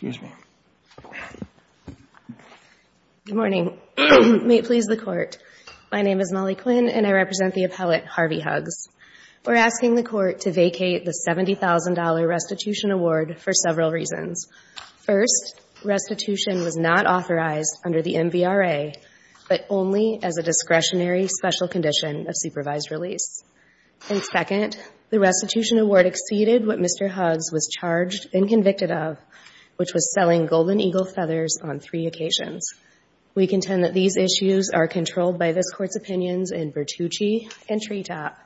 Good morning. May it please the Court. My name is Molly Quinn, and I represent the appellate Harvey Hugs. We're asking the Court to vacate the $70,000 restitution award for several reasons. First, restitution was not authorized under the MVRA, but only as a discretionary special condition of supervised release. And second, the restitution award exceeded what it was charged and convicted of, which was selling Golden Eagle feathers on three occasions. We contend that these issues are controlled by this Court's opinions in Bertucci and Treetop,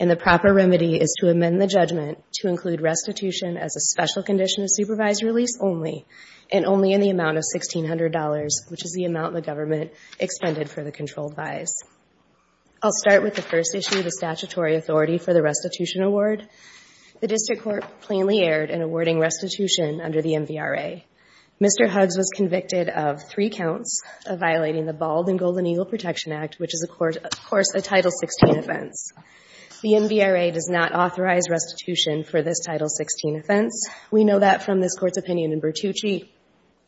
and the proper remedy is to amend the judgment to include restitution as a special condition of supervised release only, and only in the amount of $1,600, which is the amount the government expended for the controlled buys. I'll start with the first issue, the statutory authority for the restitution award. The District Court plainly erred in awarding restitution under the MVRA. Mr. Hugs was convicted of three counts of violating the Bald and Golden Eagle Protection Act, which is, of course, a Title XVI offense. The MVRA does not authorize restitution for this Title XVI offense. We know that from this Court's opinion in Bertucci.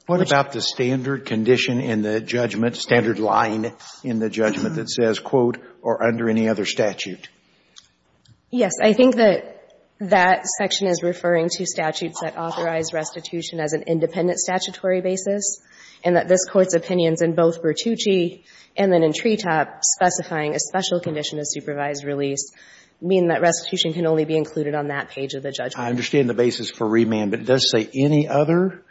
What about the standard condition in the judgment, standard line in the judgment that says, quote, or under any other statute? Yes. I think that that section is referring to statutes that authorize restitution as an independent statutory basis, and that this Court's opinions in both Bertucci and then in Treetop specifying a special condition of supervised release mean that restitution can only be included on that page of the judgment. I understand the basis for remand, but does it say any other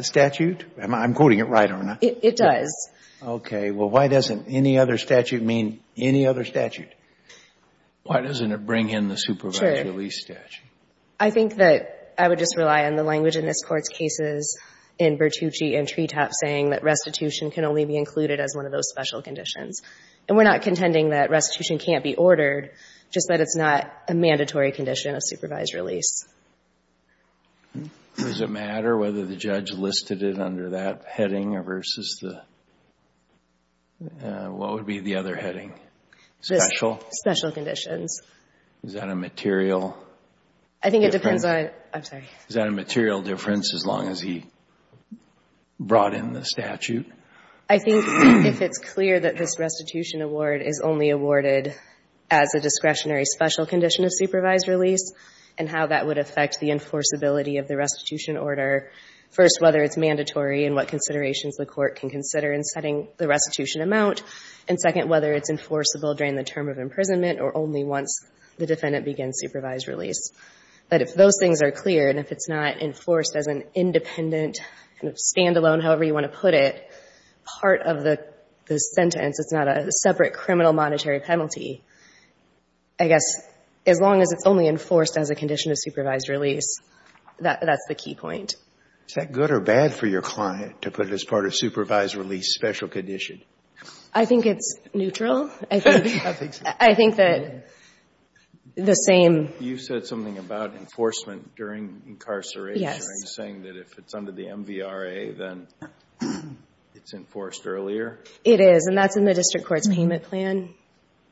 statute? I'm quoting it right, aren't I? It does. Okay. Well, why doesn't any other statute mean any other statute? Why doesn't it bring in the supervised release statute? I think that I would just rely on the language in this Court's cases in Bertucci and Treetop saying that restitution can only be included as one of those special conditions. And we're not contending that restitution can't be ordered, just that it's not a mandatory condition of supervised release. Does it matter whether the judge listed it under that heading or versus the what would be the other heading? Special? Special conditions. Is that a material difference? I think it depends on, I'm sorry. Is that a material difference as long as he brought in the statute? I think if it's clear that this restitution award is only awarded as a discretionary special condition of supervised release and how that would affect the enforceability of the restitution order, first, whether it's mandatory and what considerations the Court can consider in setting the restitution amount, and second, whether it's enforceable during the term of imprisonment or only once the defendant begins supervised release. But if those things are clear and if it's not enforced as an independent kind of standalone, however you want to put it, part of the sentence, it's not a separate criminal monetary penalty, I guess, as long as it's only enforced as a condition of supervised release, that's the key point. Is that good or bad for your client to put it as part of supervised release special condition? I think it's neutral. I think that the same You said something about enforcement during incarceration. Yes. Are you saying that if it's under the MVRA, then it's enforced earlier? It is, and that's in the district court's payment plan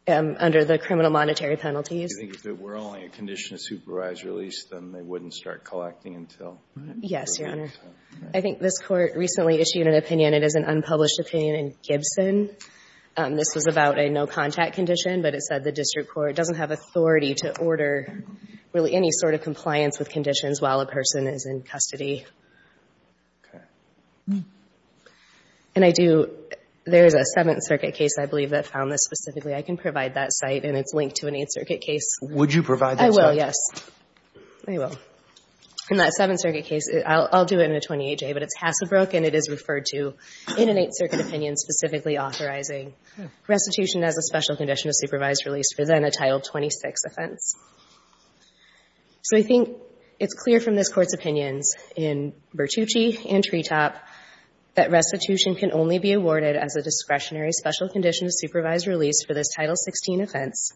under the criminal monetary penalties. Do you think if it were only a condition of supervised release, then they wouldn't start collecting until? Yes, Your Honor. I think this Court recently issued an opinion. It is an unpublished opinion in Gibson. This was about a no-contact condition, but it said the district court doesn't is in custody. And I do, there is a Seventh Circuit case, I believe, that found this specifically. I can provide that site, and it's linked to an Eighth Circuit case. Would you provide that site? I will, yes. I will. In that Seventh Circuit case, I'll do it in a 28-J, but it's Hasselbrook, and it is referred to in an Eighth Circuit opinion specifically authorizing restitution as a special condition of supervised release for then a Title 26 offense. And in this Court's opinion in Bertucci and Treetop, that restitution can only be awarded as a discretionary special condition of supervised release for this Title 16 offense,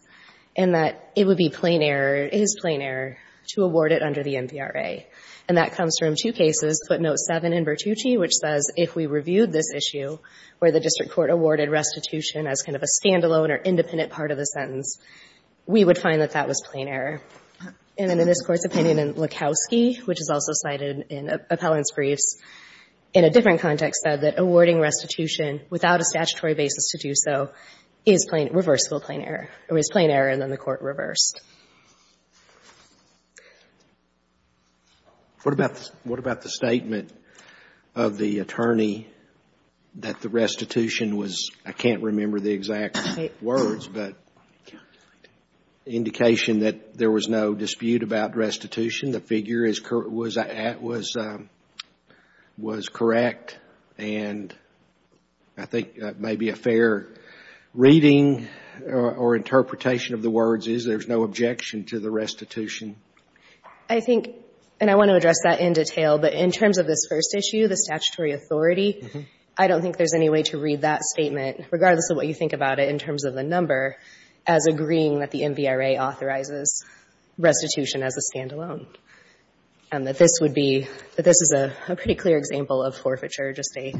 and that it would be plain error, is plain error, to award it under the NPRA. And that comes from two cases, footnote 7 in Bertucci, which says if we reviewed this issue, where the district court awarded restitution as kind of a standalone or independent part of the sentence, we would find that that was plain error. And then in this Court's opinion in Lukowski, which is also cited in appellant's briefs, in a different context, said that awarding restitution without a statutory basis to do so is plain error, or is plain error, and then the Court reversed. What about the statement of the attorney that the restitution was, I can't remember the exact words, but indication that there was no dispute about restitution, the figure was correct, and I think maybe a fair reading or interpretation of the words is there's no objection to the restitution. I think, and I want to address that in detail, but in terms of this first issue, the statutory authority, I don't think there's any way to read that statement, regardless of what you think about it in terms of the number, as agreeing that the NVRA authorizes restitution as a standalone, and that this would be, that this is a pretty clear example of forfeiture, just a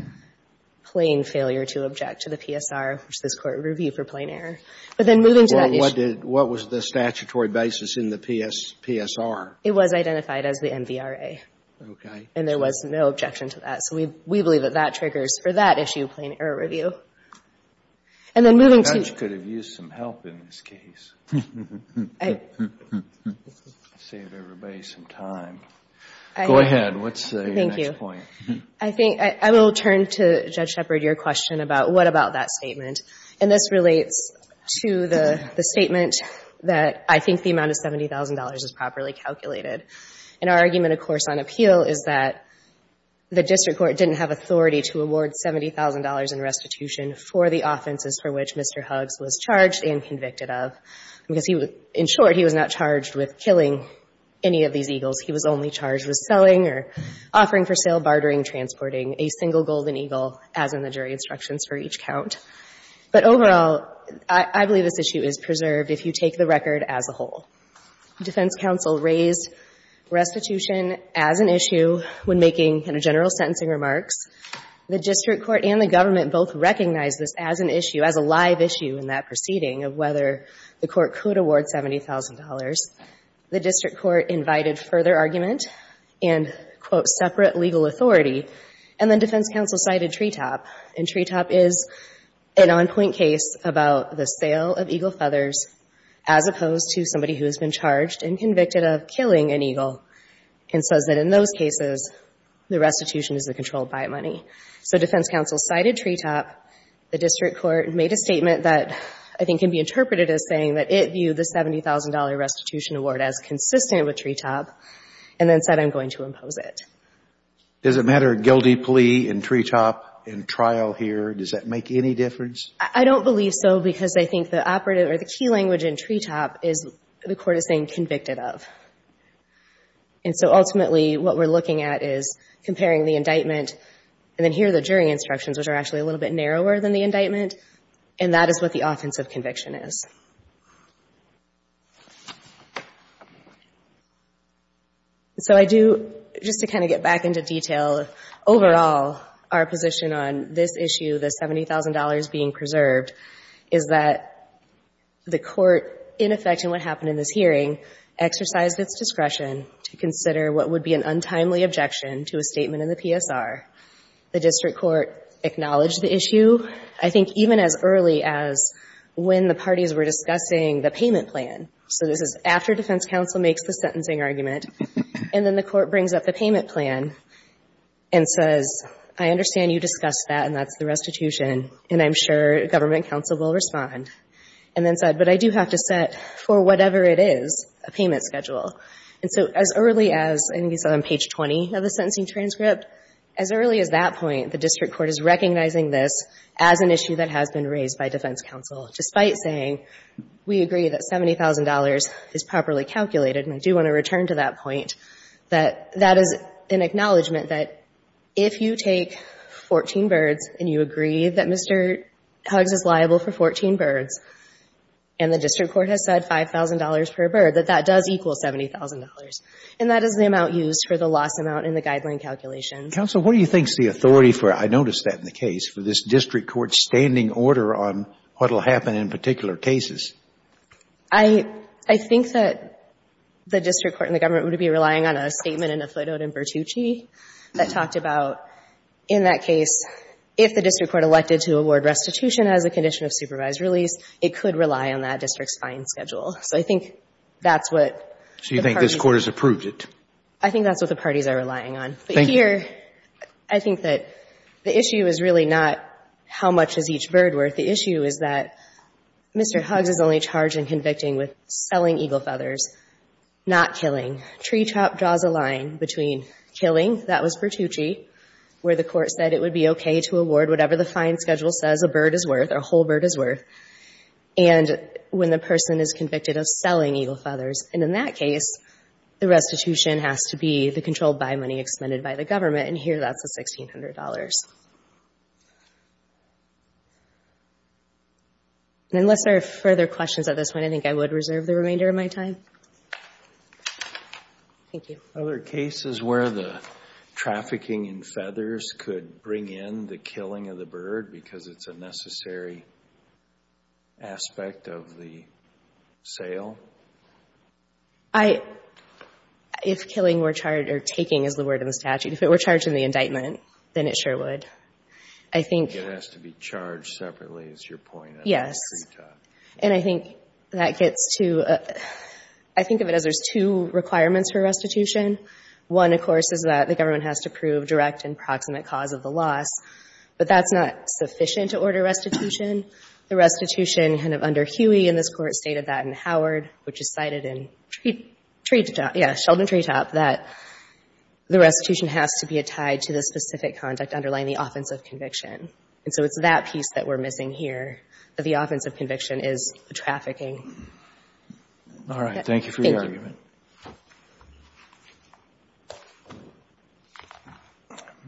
plain failure to object to the PSR, which this Court reviewed for plain error. But then moving to that issue. Well, what did, what was the statutory basis in the PSR? It was identified as the NVRA. Okay. And there was no objection to that, so we believe that that triggers for that issue in plain error review. And then moving to. The judge could have used some help in this case, saved everybody some time. Go ahead. What's your next point? Thank you. I think, I will turn to Judge Shepard, your question about what about that statement. And this relates to the statement that I think the amount of $70,000 is properly calculated. And our argument, of course, on appeal is that the District Court didn't have authority to award $70,000 in restitution for the offenses for which Mr. Huggs was charged and convicted of, because he was, in short, he was not charged with killing any of these eagles. He was only charged with selling or offering for sale, bartering, transporting a single golden eagle, as in the jury instructions for each count. But overall, I believe this issue is preserved if you take the record as a whole. Defense counsel raised restitution as an issue when making general sentencing remarks. The District Court and the government both recognized this as an issue, as a live issue in that proceeding of whether the court could award $70,000. The District Court invited further argument and, quote, separate legal authority. And then defense counsel cited Treetop. And Treetop is an on-point case about the sale of eagle feathers as opposed to somebody who has been charged and convicted of killing an eagle and says that in those cases, the restitution is the controlled by money. So defense counsel cited Treetop. The District Court made a statement that I think can be interpreted as saying that it viewed the $70,000 restitution award as consistent with Treetop and then said, I'm going to impose it. Does it matter, guilty plea in Treetop in trial here, does that make any difference? I don't believe so because I think the operative or the key language in Treetop is the court is saying convicted of. And so ultimately, what we're looking at is comparing the indictment and then here are the jury instructions, which are actually a little bit narrower than the indictment. And that is what the offense of conviction is. So I do, just to kind of get back into detail, overall, our position on this issue, the $70,000 being preserved, is that the court, in effect, in what happened in this hearing, exercised its discretion to consider what would be an untimely objection to a statement in the PSR. The District Court acknowledged the issue, I think even as early as when the parties were discussing the payment plan. So this is after defense counsel makes the sentencing argument. And then the court brings up the payment plan and says, I understand you discussed that and that's the restitution, and I'm sure government counsel will respond. And then said, but I do have to set, for whatever it is, a payment schedule. And so as early as, I think you said on page 20 of the sentencing transcript, as early as that point, the District Court is recognizing this as an issue that has been raised by defense counsel, despite saying, we agree that $70,000 is properly calculated, and I do want to return to that point, that that is an acknowledgment that if you take 14 birds and you agree that Mr. Huggs is liable for 14 birds, and the District Court has said $5,000 per bird, that that does equal $70,000. And that is the amount used for the loss amount in the guideline calculation. Counsel, what do you think is the authority for, I noticed that in the case, for this District Court's standing order on what will happen in particular cases? I think that the District Court and the government would be relying on a statement in a footnote in Bertucci that talked about, in that case, if the District Court elected to award restitution as a condition of supervised release, it could rely on that District's fine schedule. So I think that's what the parties are relying on. So you think this Court has approved it? But here, I think that the issue is really not how much is each bird worth. The issue is that Mr. Huggs is only charged and convicting with selling eagle feathers, not killing. TreeTrop draws a line between killing, that was Bertucci, where the court said it would be okay to award whatever the fine schedule says a bird is worth, a whole bird is worth, and when the person is convicted of selling eagle feathers. And in that case, the restitution has to be the controlled buy money expended by the government. And here, that's the $1,600. And unless there are further questions at this point, I think I would reserve the remainder of my time. Thank you. Are there cases where the trafficking in feathers could bring in the killing of the bird because it's a necessary aspect of the sale? I, if killing were charged, or taking is the word in the statute, if it were charged in the indictment, then it sure would. It has to be charged separately, is your point about TreeTrop. Yes. And I think that gets to, I think of it as there's two requirements for restitution. One, of course, is that the government has to prove direct and proximate cause of the loss. But that's not sufficient to order restitution. The restitution, kind of under Huey in this court, stated that in Howard, which is cited in TreeTrop, yeah, Sheldon TreeTrop, that the restitution has to be a conduct underlying the offense of conviction. And so it's that piece that we're missing here, that the offense of conviction is the trafficking. All right. Thank you for your argument. Thank you.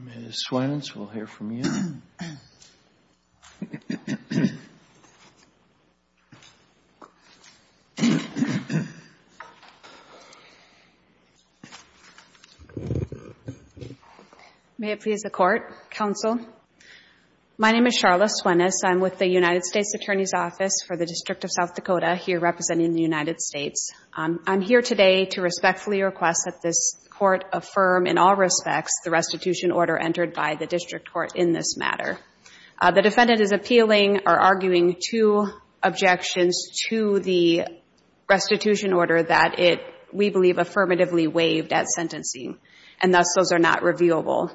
Ms. Swanns, we'll hear from you. May it please the Court, Counsel? My name is Charlotte Swanns. I'm with the United States Attorney's Office for the District of South Dakota, here representing the United States. I'm here today to respectfully request that this Court affirm in all respects the restitution order entered by the district court in this matter. The defendant is appealing or arguing two objections to the restitution order that it, we believe, affirmatively waived at sentencing. And thus, those are not reviewable.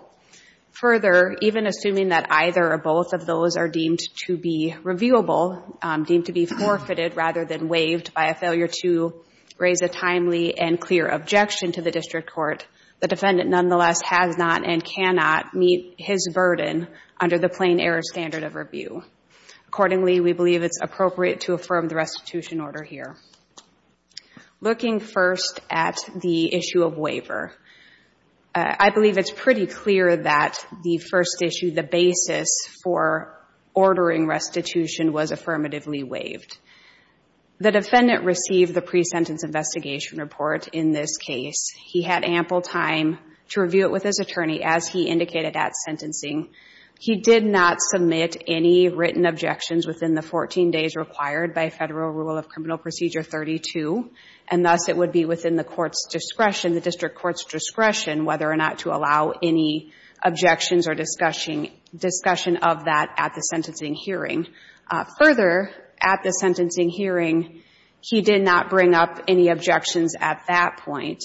Further, even assuming that either or both of those are deemed to be reviewable, deemed to be forfeited rather than waived by a failure to raise a timely and clear objection to the district court, the defendant nonetheless has not and cannot meet his burden under the plain error standard of review. Accordingly, we believe it's appropriate to affirm the restitution order here. Looking first at the issue of waiver, I believe it's pretty clear that the first issue, the basis for ordering restitution, was affirmatively waived. The defendant received the pre-sentence investigation report in this case. He had ample time to review it with his attorney, as he indicated at sentencing. He did not submit any written objections within the 14 days required by Federal Rule of Criminal Procedure 32, and thus it would be within the court's discretion, the district court's discretion, whether or not to allow any objections or discussion of that at the sentencing hearing. Further, at the sentencing hearing, he did not bring up any objections at that point.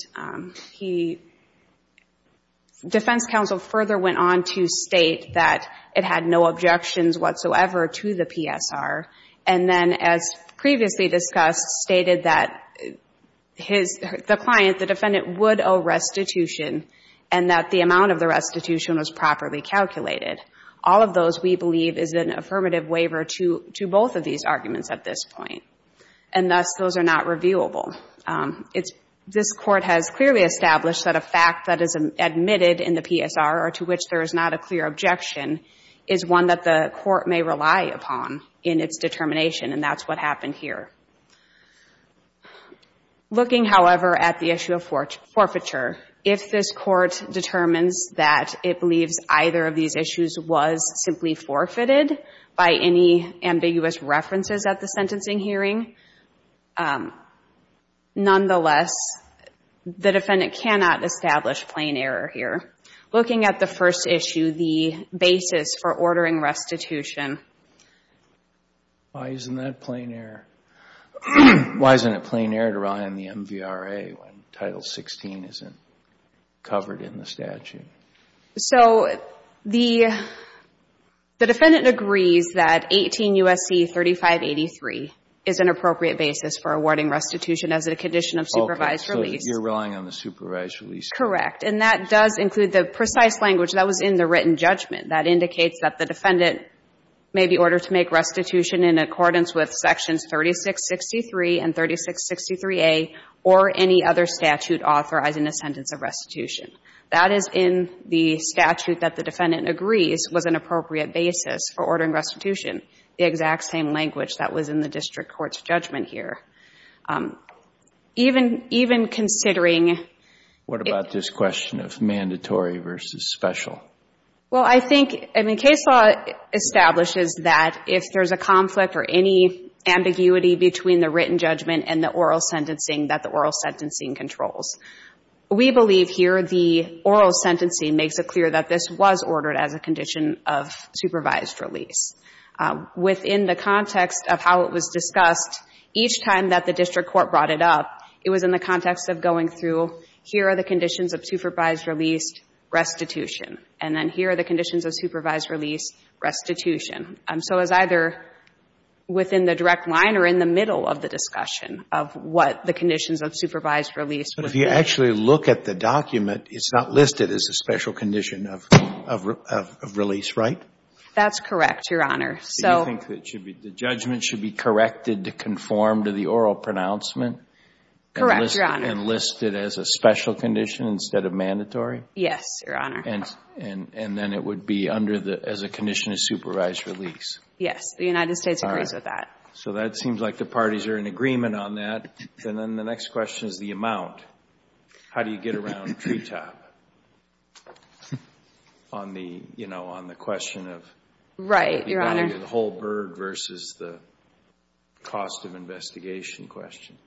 Defense counsel further went on to state that it had no objections whatsoever to the PSR, and then as previously discussed, stated that the client, the defendant, would owe restitution and that the amount of the restitution was properly calculated. All of those, we believe, is an affirmative waiver to both of these arguments at this point, and thus those are not reviewable. This court has clearly established that a fact that is admitted in the PSR or to which there is not a clear objection is one that the court may rely upon in its determination, and that's what happened here. Looking, however, at the issue of forfeiture, if this court determines that it believes either of these issues was simply forfeited by any ambiguous references at the sentencing hearing, nonetheless, the defendant cannot establish plain error here. Looking at the first issue, the basis for ordering restitution. Why isn't that plain error? Why isn't it plain error to rely on the MVRA when Title 16 isn't covered in the statute? So the defendant agrees that 18 U.S.C. 3583 is an appropriate basis for awarding restitution as a condition of supervised release. Okay, so you're relying on the supervised release. Correct. And that does include the precise language that was in the written judgment that indicates that the defendant may be ordered to make restitution in accordance with sections 3663 and 3663A or any other statute authorizing a sentence of restitution. That is in the statute that the defendant agrees was an appropriate basis for ordering restitution, the exact same language that was in the district court's judgment here. Even considering... What about this question of mandatory versus special? Well, I think, I mean, case law establishes that if there's a conflict or any ambiguity between the written judgment and the oral sentencing that the oral sentencing controls. We believe here the oral sentencing makes it clear that this was ordered as a condition of supervised release. Within the context of how it was discussed, each time that the district court brought it up, it was in the context of going through, here are the conditions of supervised release, restitution. And then here are the conditions of supervised release, restitution. So it was either within the direct line or in the middle of the discussion of what the conditions of supervised release were. But if you actually look at the document, it's not listed as a special condition of release, right? That's correct, Your Honor. So... Do you think the judgment should be corrected to conform to the oral pronouncement? Correct, Your Honor. And listed as a special condition instead of mandatory? Yes, Your Honor. And then it would be under the, as a condition of supervised release? Yes. The United States agrees with that. All right. So that seems like the parties are in agreement on that. And then the next question is the amount. How do you get around treetop? On the, you know, on the question of... Right, Your Honor. The value of the whole bird versus the cost of investigation question.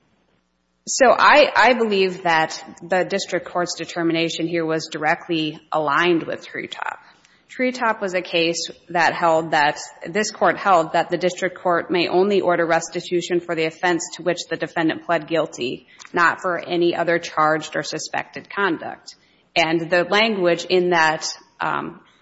So I believe that the district court's determination here was directly aligned with treetop. Treetop was a case that held that, this court held that the district court may only order restitution for the offense to which the defendant pled guilty, not for any other charged or suspected conduct. And the language in that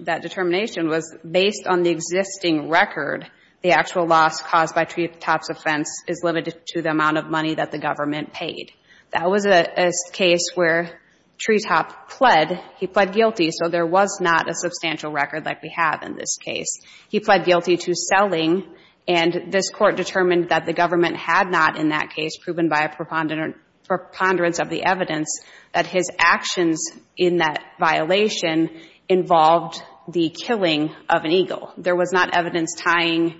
determination was based on the existing record, the actual loss caused by treetop's offense is limited to the amount of money that the government paid. That was a case where treetop pled, he pled guilty, so there was not a substantial record like we have in this case. He pled guilty to selling, and this court determined that the government had not in that case, proven by a preponderance of the evidence, that his actions in that violation involved the killing of an eagle. There was not evidence tying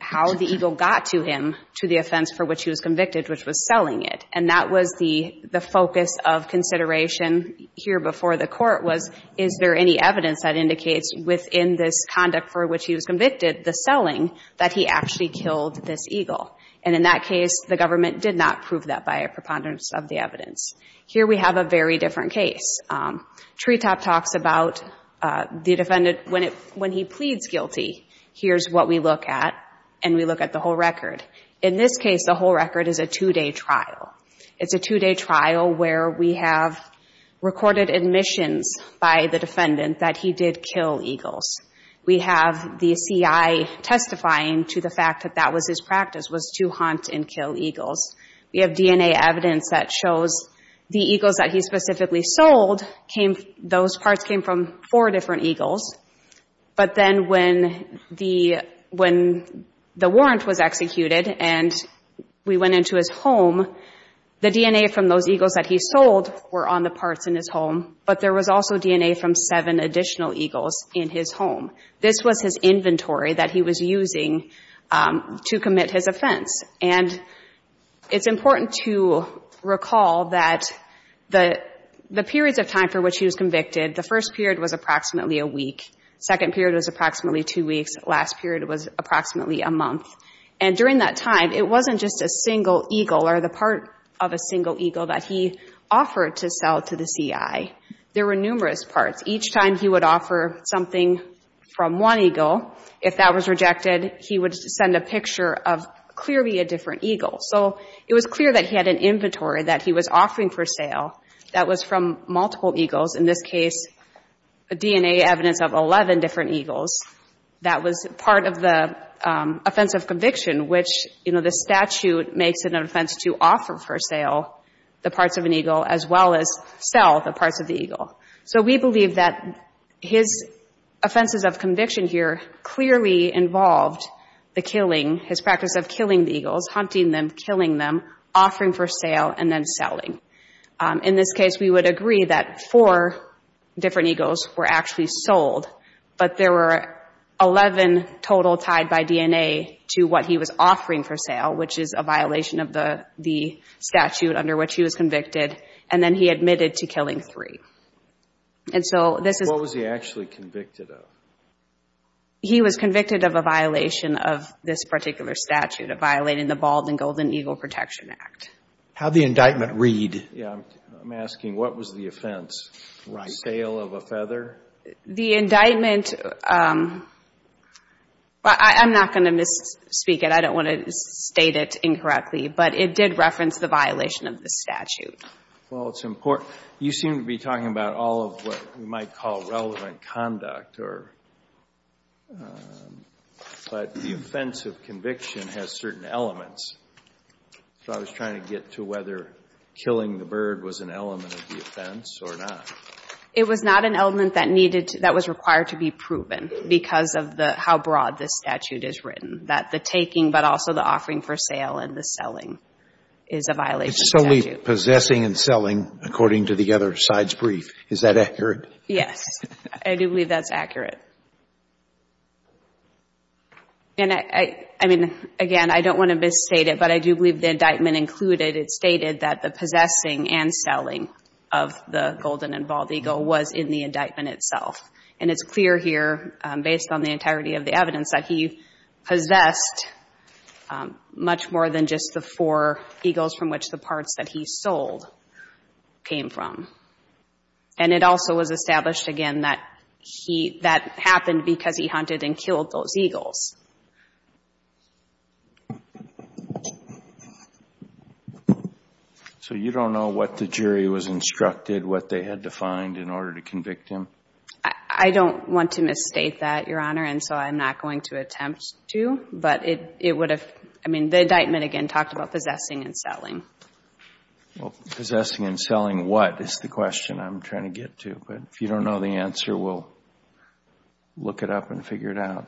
how the eagle got to him to the offense for which he was convicted, which was selling it. And that was the focus of consideration here before the court was, is there any evidence that indicates within this conduct for which he was convicted, the selling, that he actually killed this eagle. And in that case, the government did not prove that by a preponderance of the evidence. Here we have a very different case. Treetop talks about the defendant, when he pleads guilty, here's what we look at, and we look at the whole record. In this case, the whole record is a two-day trial. It's a two-day trial where we have recorded admissions by the defendant that he did kill eagles. We have the CI testifying to the fact that that was his practice, was to hunt and kill eagles. We have DNA evidence that shows the eagles that he specifically sold, those parts came from four different eagles. But then when the warrant was executed and we went into his home, the DNA from those eagles that he sold were on the parts in his home, but there was also DNA from seven additional eagles in his home. This was his inventory that he was using to commit his offense. And it's important to recall that the periods of time for which he was convicted, the first period was approximately a week, second period was approximately two weeks, last period was approximately a month. And during that time, it wasn't just a single eagle or the part of a single eagle that he offered to sell to the CI. There were numerous parts. Each time he would offer something from one eagle, if that was rejected, he would send a picture of clearly a different eagle. So it was clear that he had an inventory that he was offering for sale that was from multiple eagles, in this case DNA evidence of 11 different eagles. That was part of the offense of conviction, which, you know, the statute makes it an offense to offer for sale the parts of an eagle as well as sell the parts of the eagle. So we believe that his offenses of conviction here clearly involved the killing, his practice of killing the eagles, hunting them, killing them, offering for sale, and then selling. In this case, we would agree that four different eagles were actually sold, but there were 11 total tied by DNA to what he was offering for sale, which is a violation of the statute under which he was convicted, and then he admitted to killing three. What was he actually convicted of? He was convicted of a violation of this particular statute, of violating the Bald and Golden Eagle Protection Act. How did the indictment read? I'm asking, what was the offense? Sale of a feather? The indictment, I'm not going to misspeak it. I don't want to state it incorrectly, but it did reference the violation of the statute. Well, it's important. You seem to be talking about all of what we might call relevant conduct, but the offense of conviction has certain elements. So I was trying to get to whether killing the bird was an element of the offense or not. It was not an element that was required to be proven because of how broad this statute is written, that the taking but also the offering for sale and the selling is a violation of the statute. It's solely possessing and selling, according to the other side's brief. Is that accurate? Yes. I do believe that's accurate. I mean, again, I don't want to misstate it, but I do believe the indictment included, it stated that the possessing and selling of the golden and bald eagle was in the indictment itself. And it's clear here, based on the entirety of the evidence, that he possessed much more than just the four eagles from which the parts that he sold came from. And it also was established, again, that that happened because he hunted and killed those eagles. So you don't know what the jury was instructed, what they had to find in order to convict him? I don't want to misstate that, Your Honor, and so I'm not going to attempt to. But it would have, I mean, the indictment, again, talked about possessing and selling. Well, possessing and selling what is the question I'm trying to get to. But if you don't know the answer, we'll look it up and figure it out.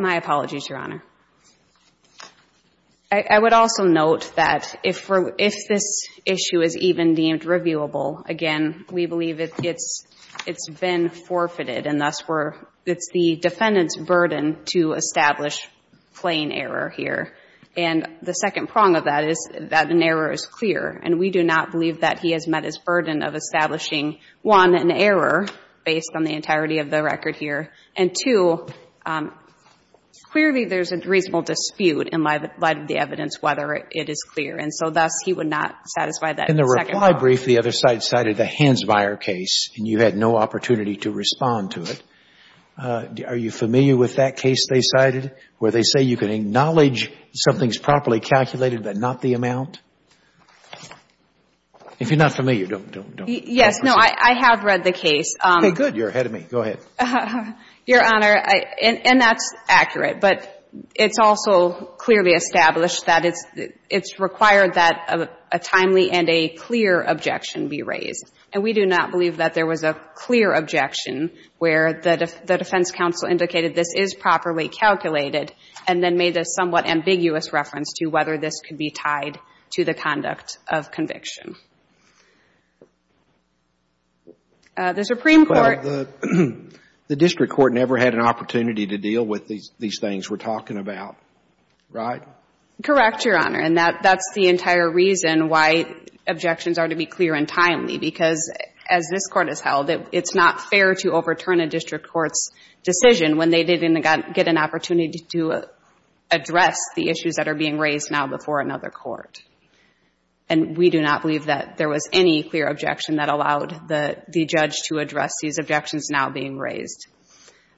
My apologies, Your Honor. I would also note that if this issue is even deemed reviewable, again, we believe it's been forfeited. And thus, it's the defendant's burden to establish plain error here. And the second prong of that is that an error is clear. And we do not believe that he has met his burden of establishing, one, an error based on the entirety of the record here. And, two, clearly there's a reasonable dispute in light of the evidence whether it is clear. And so thus, he would not satisfy that second prong. While I brief, the other side cited the Hansmeier case, and you had no opportunity to respond to it. Are you familiar with that case they cited where they say you can acknowledge something's properly calculated but not the amount? If you're not familiar, don't, don't, don't. Yes. No, I have read the case. Okay, good. You're ahead of me. Go ahead. Your Honor, and that's accurate. But it's also clearly established that it's required that a timely and a clear objection be raised. And we do not believe that there was a clear objection where the defense counsel indicated this is properly calculated and then made a somewhat ambiguous reference to whether this could be tied to the conduct of conviction. The Supreme Court — Well, the district court never had an opportunity to deal with these things we're talking about. Right? Correct, Your Honor. And that's the entire reason why objections are to be clear and timely, because as this Court has held, it's not fair to overturn a district court's decision when they didn't get an opportunity to address the issues that are being raised now before another court. And we do not believe that there was any clear objection that allowed the judge to address these objections now being raised.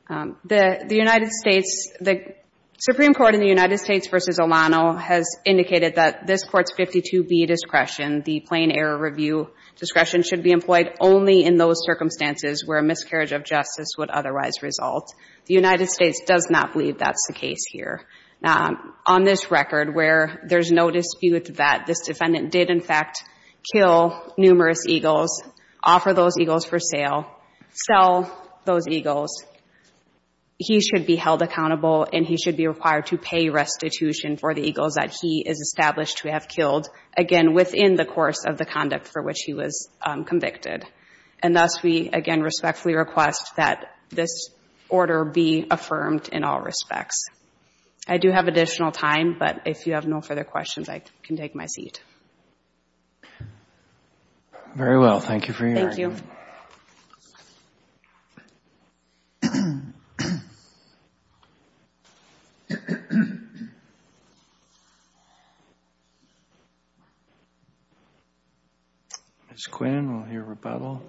The United States, the Supreme Court in the United States v. Pizzolano has indicated that this Court's 52B discretion, the plain error review discretion, should be employed only in those circumstances where a miscarriage of justice would otherwise result. The United States does not believe that's the case here. Now, on this record where there's no dispute that this defendant did, in fact, kill numerous eagles, offer those eagles for sale, sell those eagles, he should be held accountable and he should be required to pay restitution for the eagles that he is established to have killed, again, within the course of the conduct for which he was convicted. And thus we, again, respectfully request that this order be affirmed in all respects. I do have additional time, but if you have no further questions, I can take my seat. Very well. Thank you for your argument. Thank you. Ms. Quinn, we'll hear rebuttal.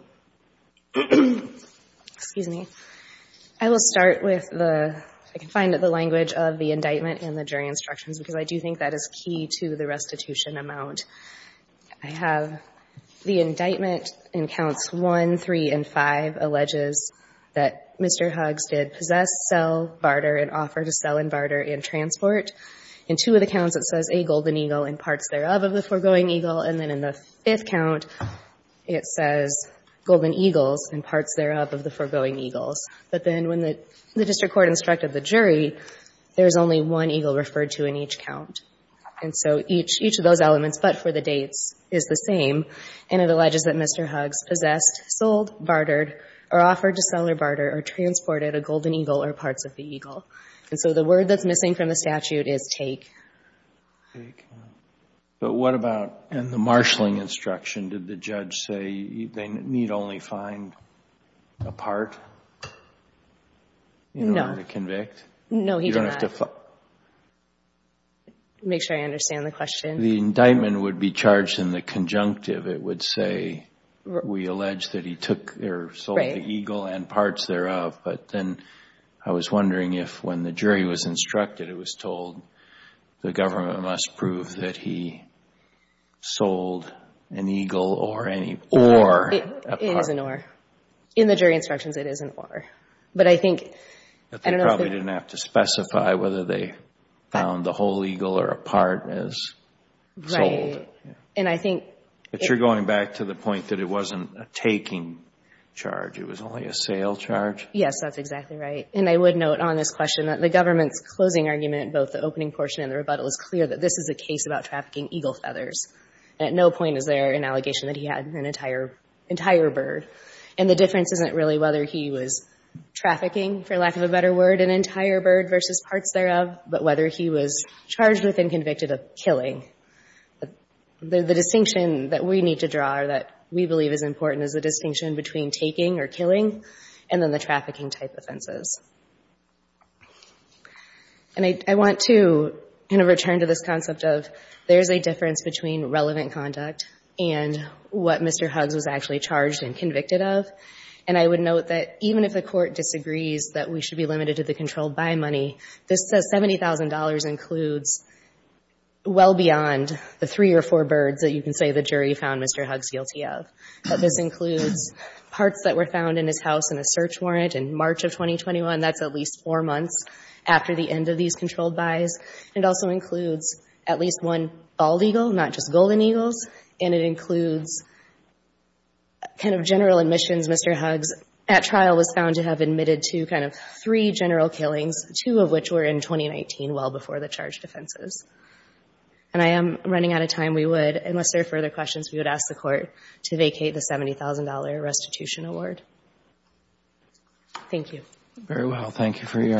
Excuse me. I will start with the, I can find the language of the indictment in the jury instructions because I do think that is key to the restitution amount. I have the indictment in counts 1, 3, and 5 alleges that Mr. Huggs did possess, sell, barter, and offer to sell and barter and transport. In two of the counts it says a golden eagle and parts thereof of the foregoing eagle, and then in the fifth count it says golden eagles and parts thereof of the foregoing eagles. But then when the district court instructed the jury, there's only one eagle referred to in each count. And so each of those elements but for the dates is the same, and it alleges that Mr. Huggs possessed, sold, bartered, or offered to sell or barter or transported a golden eagle or parts of the eagle. And so the word that's missing from the statute is take. But what about in the marshaling instruction did the judge say they need only find a part in order to convict? No, he did not. Make sure I understand the question. The indictment would be charged in the conjunctive. It would say we allege that he took or sold the eagle and parts thereof. But then I was wondering if when the jury was instructed it was told the government must prove that he sold an eagle or any oar. It is an oar. In the jury instructions it is an oar. But they probably didn't have to specify whether they found the whole eagle or a part as sold. Right. But you're going back to the point that it wasn't a taking charge. It was only a sale charge. Yes, that's exactly right. And I would note on this question that the government's closing argument in both the opening portion and the rebuttal is clear that this is a case about trafficking eagle feathers. At no point is there an allegation that he had an entire bird. And the difference isn't really whether he was trafficking, for lack of a better word, an entire bird versus parts thereof, but whether he was charged with and convicted of killing. The distinction that we need to draw or that we believe is important is the distinction between taking or killing and then the trafficking type offenses. And I want to kind of return to this concept of there's a difference between relevant conduct and what Mr. Huggs was actually charged and convicted of. And I would note that even if the court disagrees that we should be limited to the controlled buy money, this says $70,000 includes well beyond the three or four birds that you can say the jury found Mr. Huggs guilty of. But this includes parts that were found in his house in a search warrant in March of 2021. That's at least four months after the end of these controlled buys. And it also includes at least one bald eagle, not just golden eagles. And it includes kind of general admissions. Mr. Huggs at trial was found to have admitted to kind of three general killings, two of which were in 2019, well before the charged offenses. And I am running out of time. We would, unless there are further questions, we would ask the court to vacate the $70,000 restitution award. Thank you. Very well. Thank you for your argument.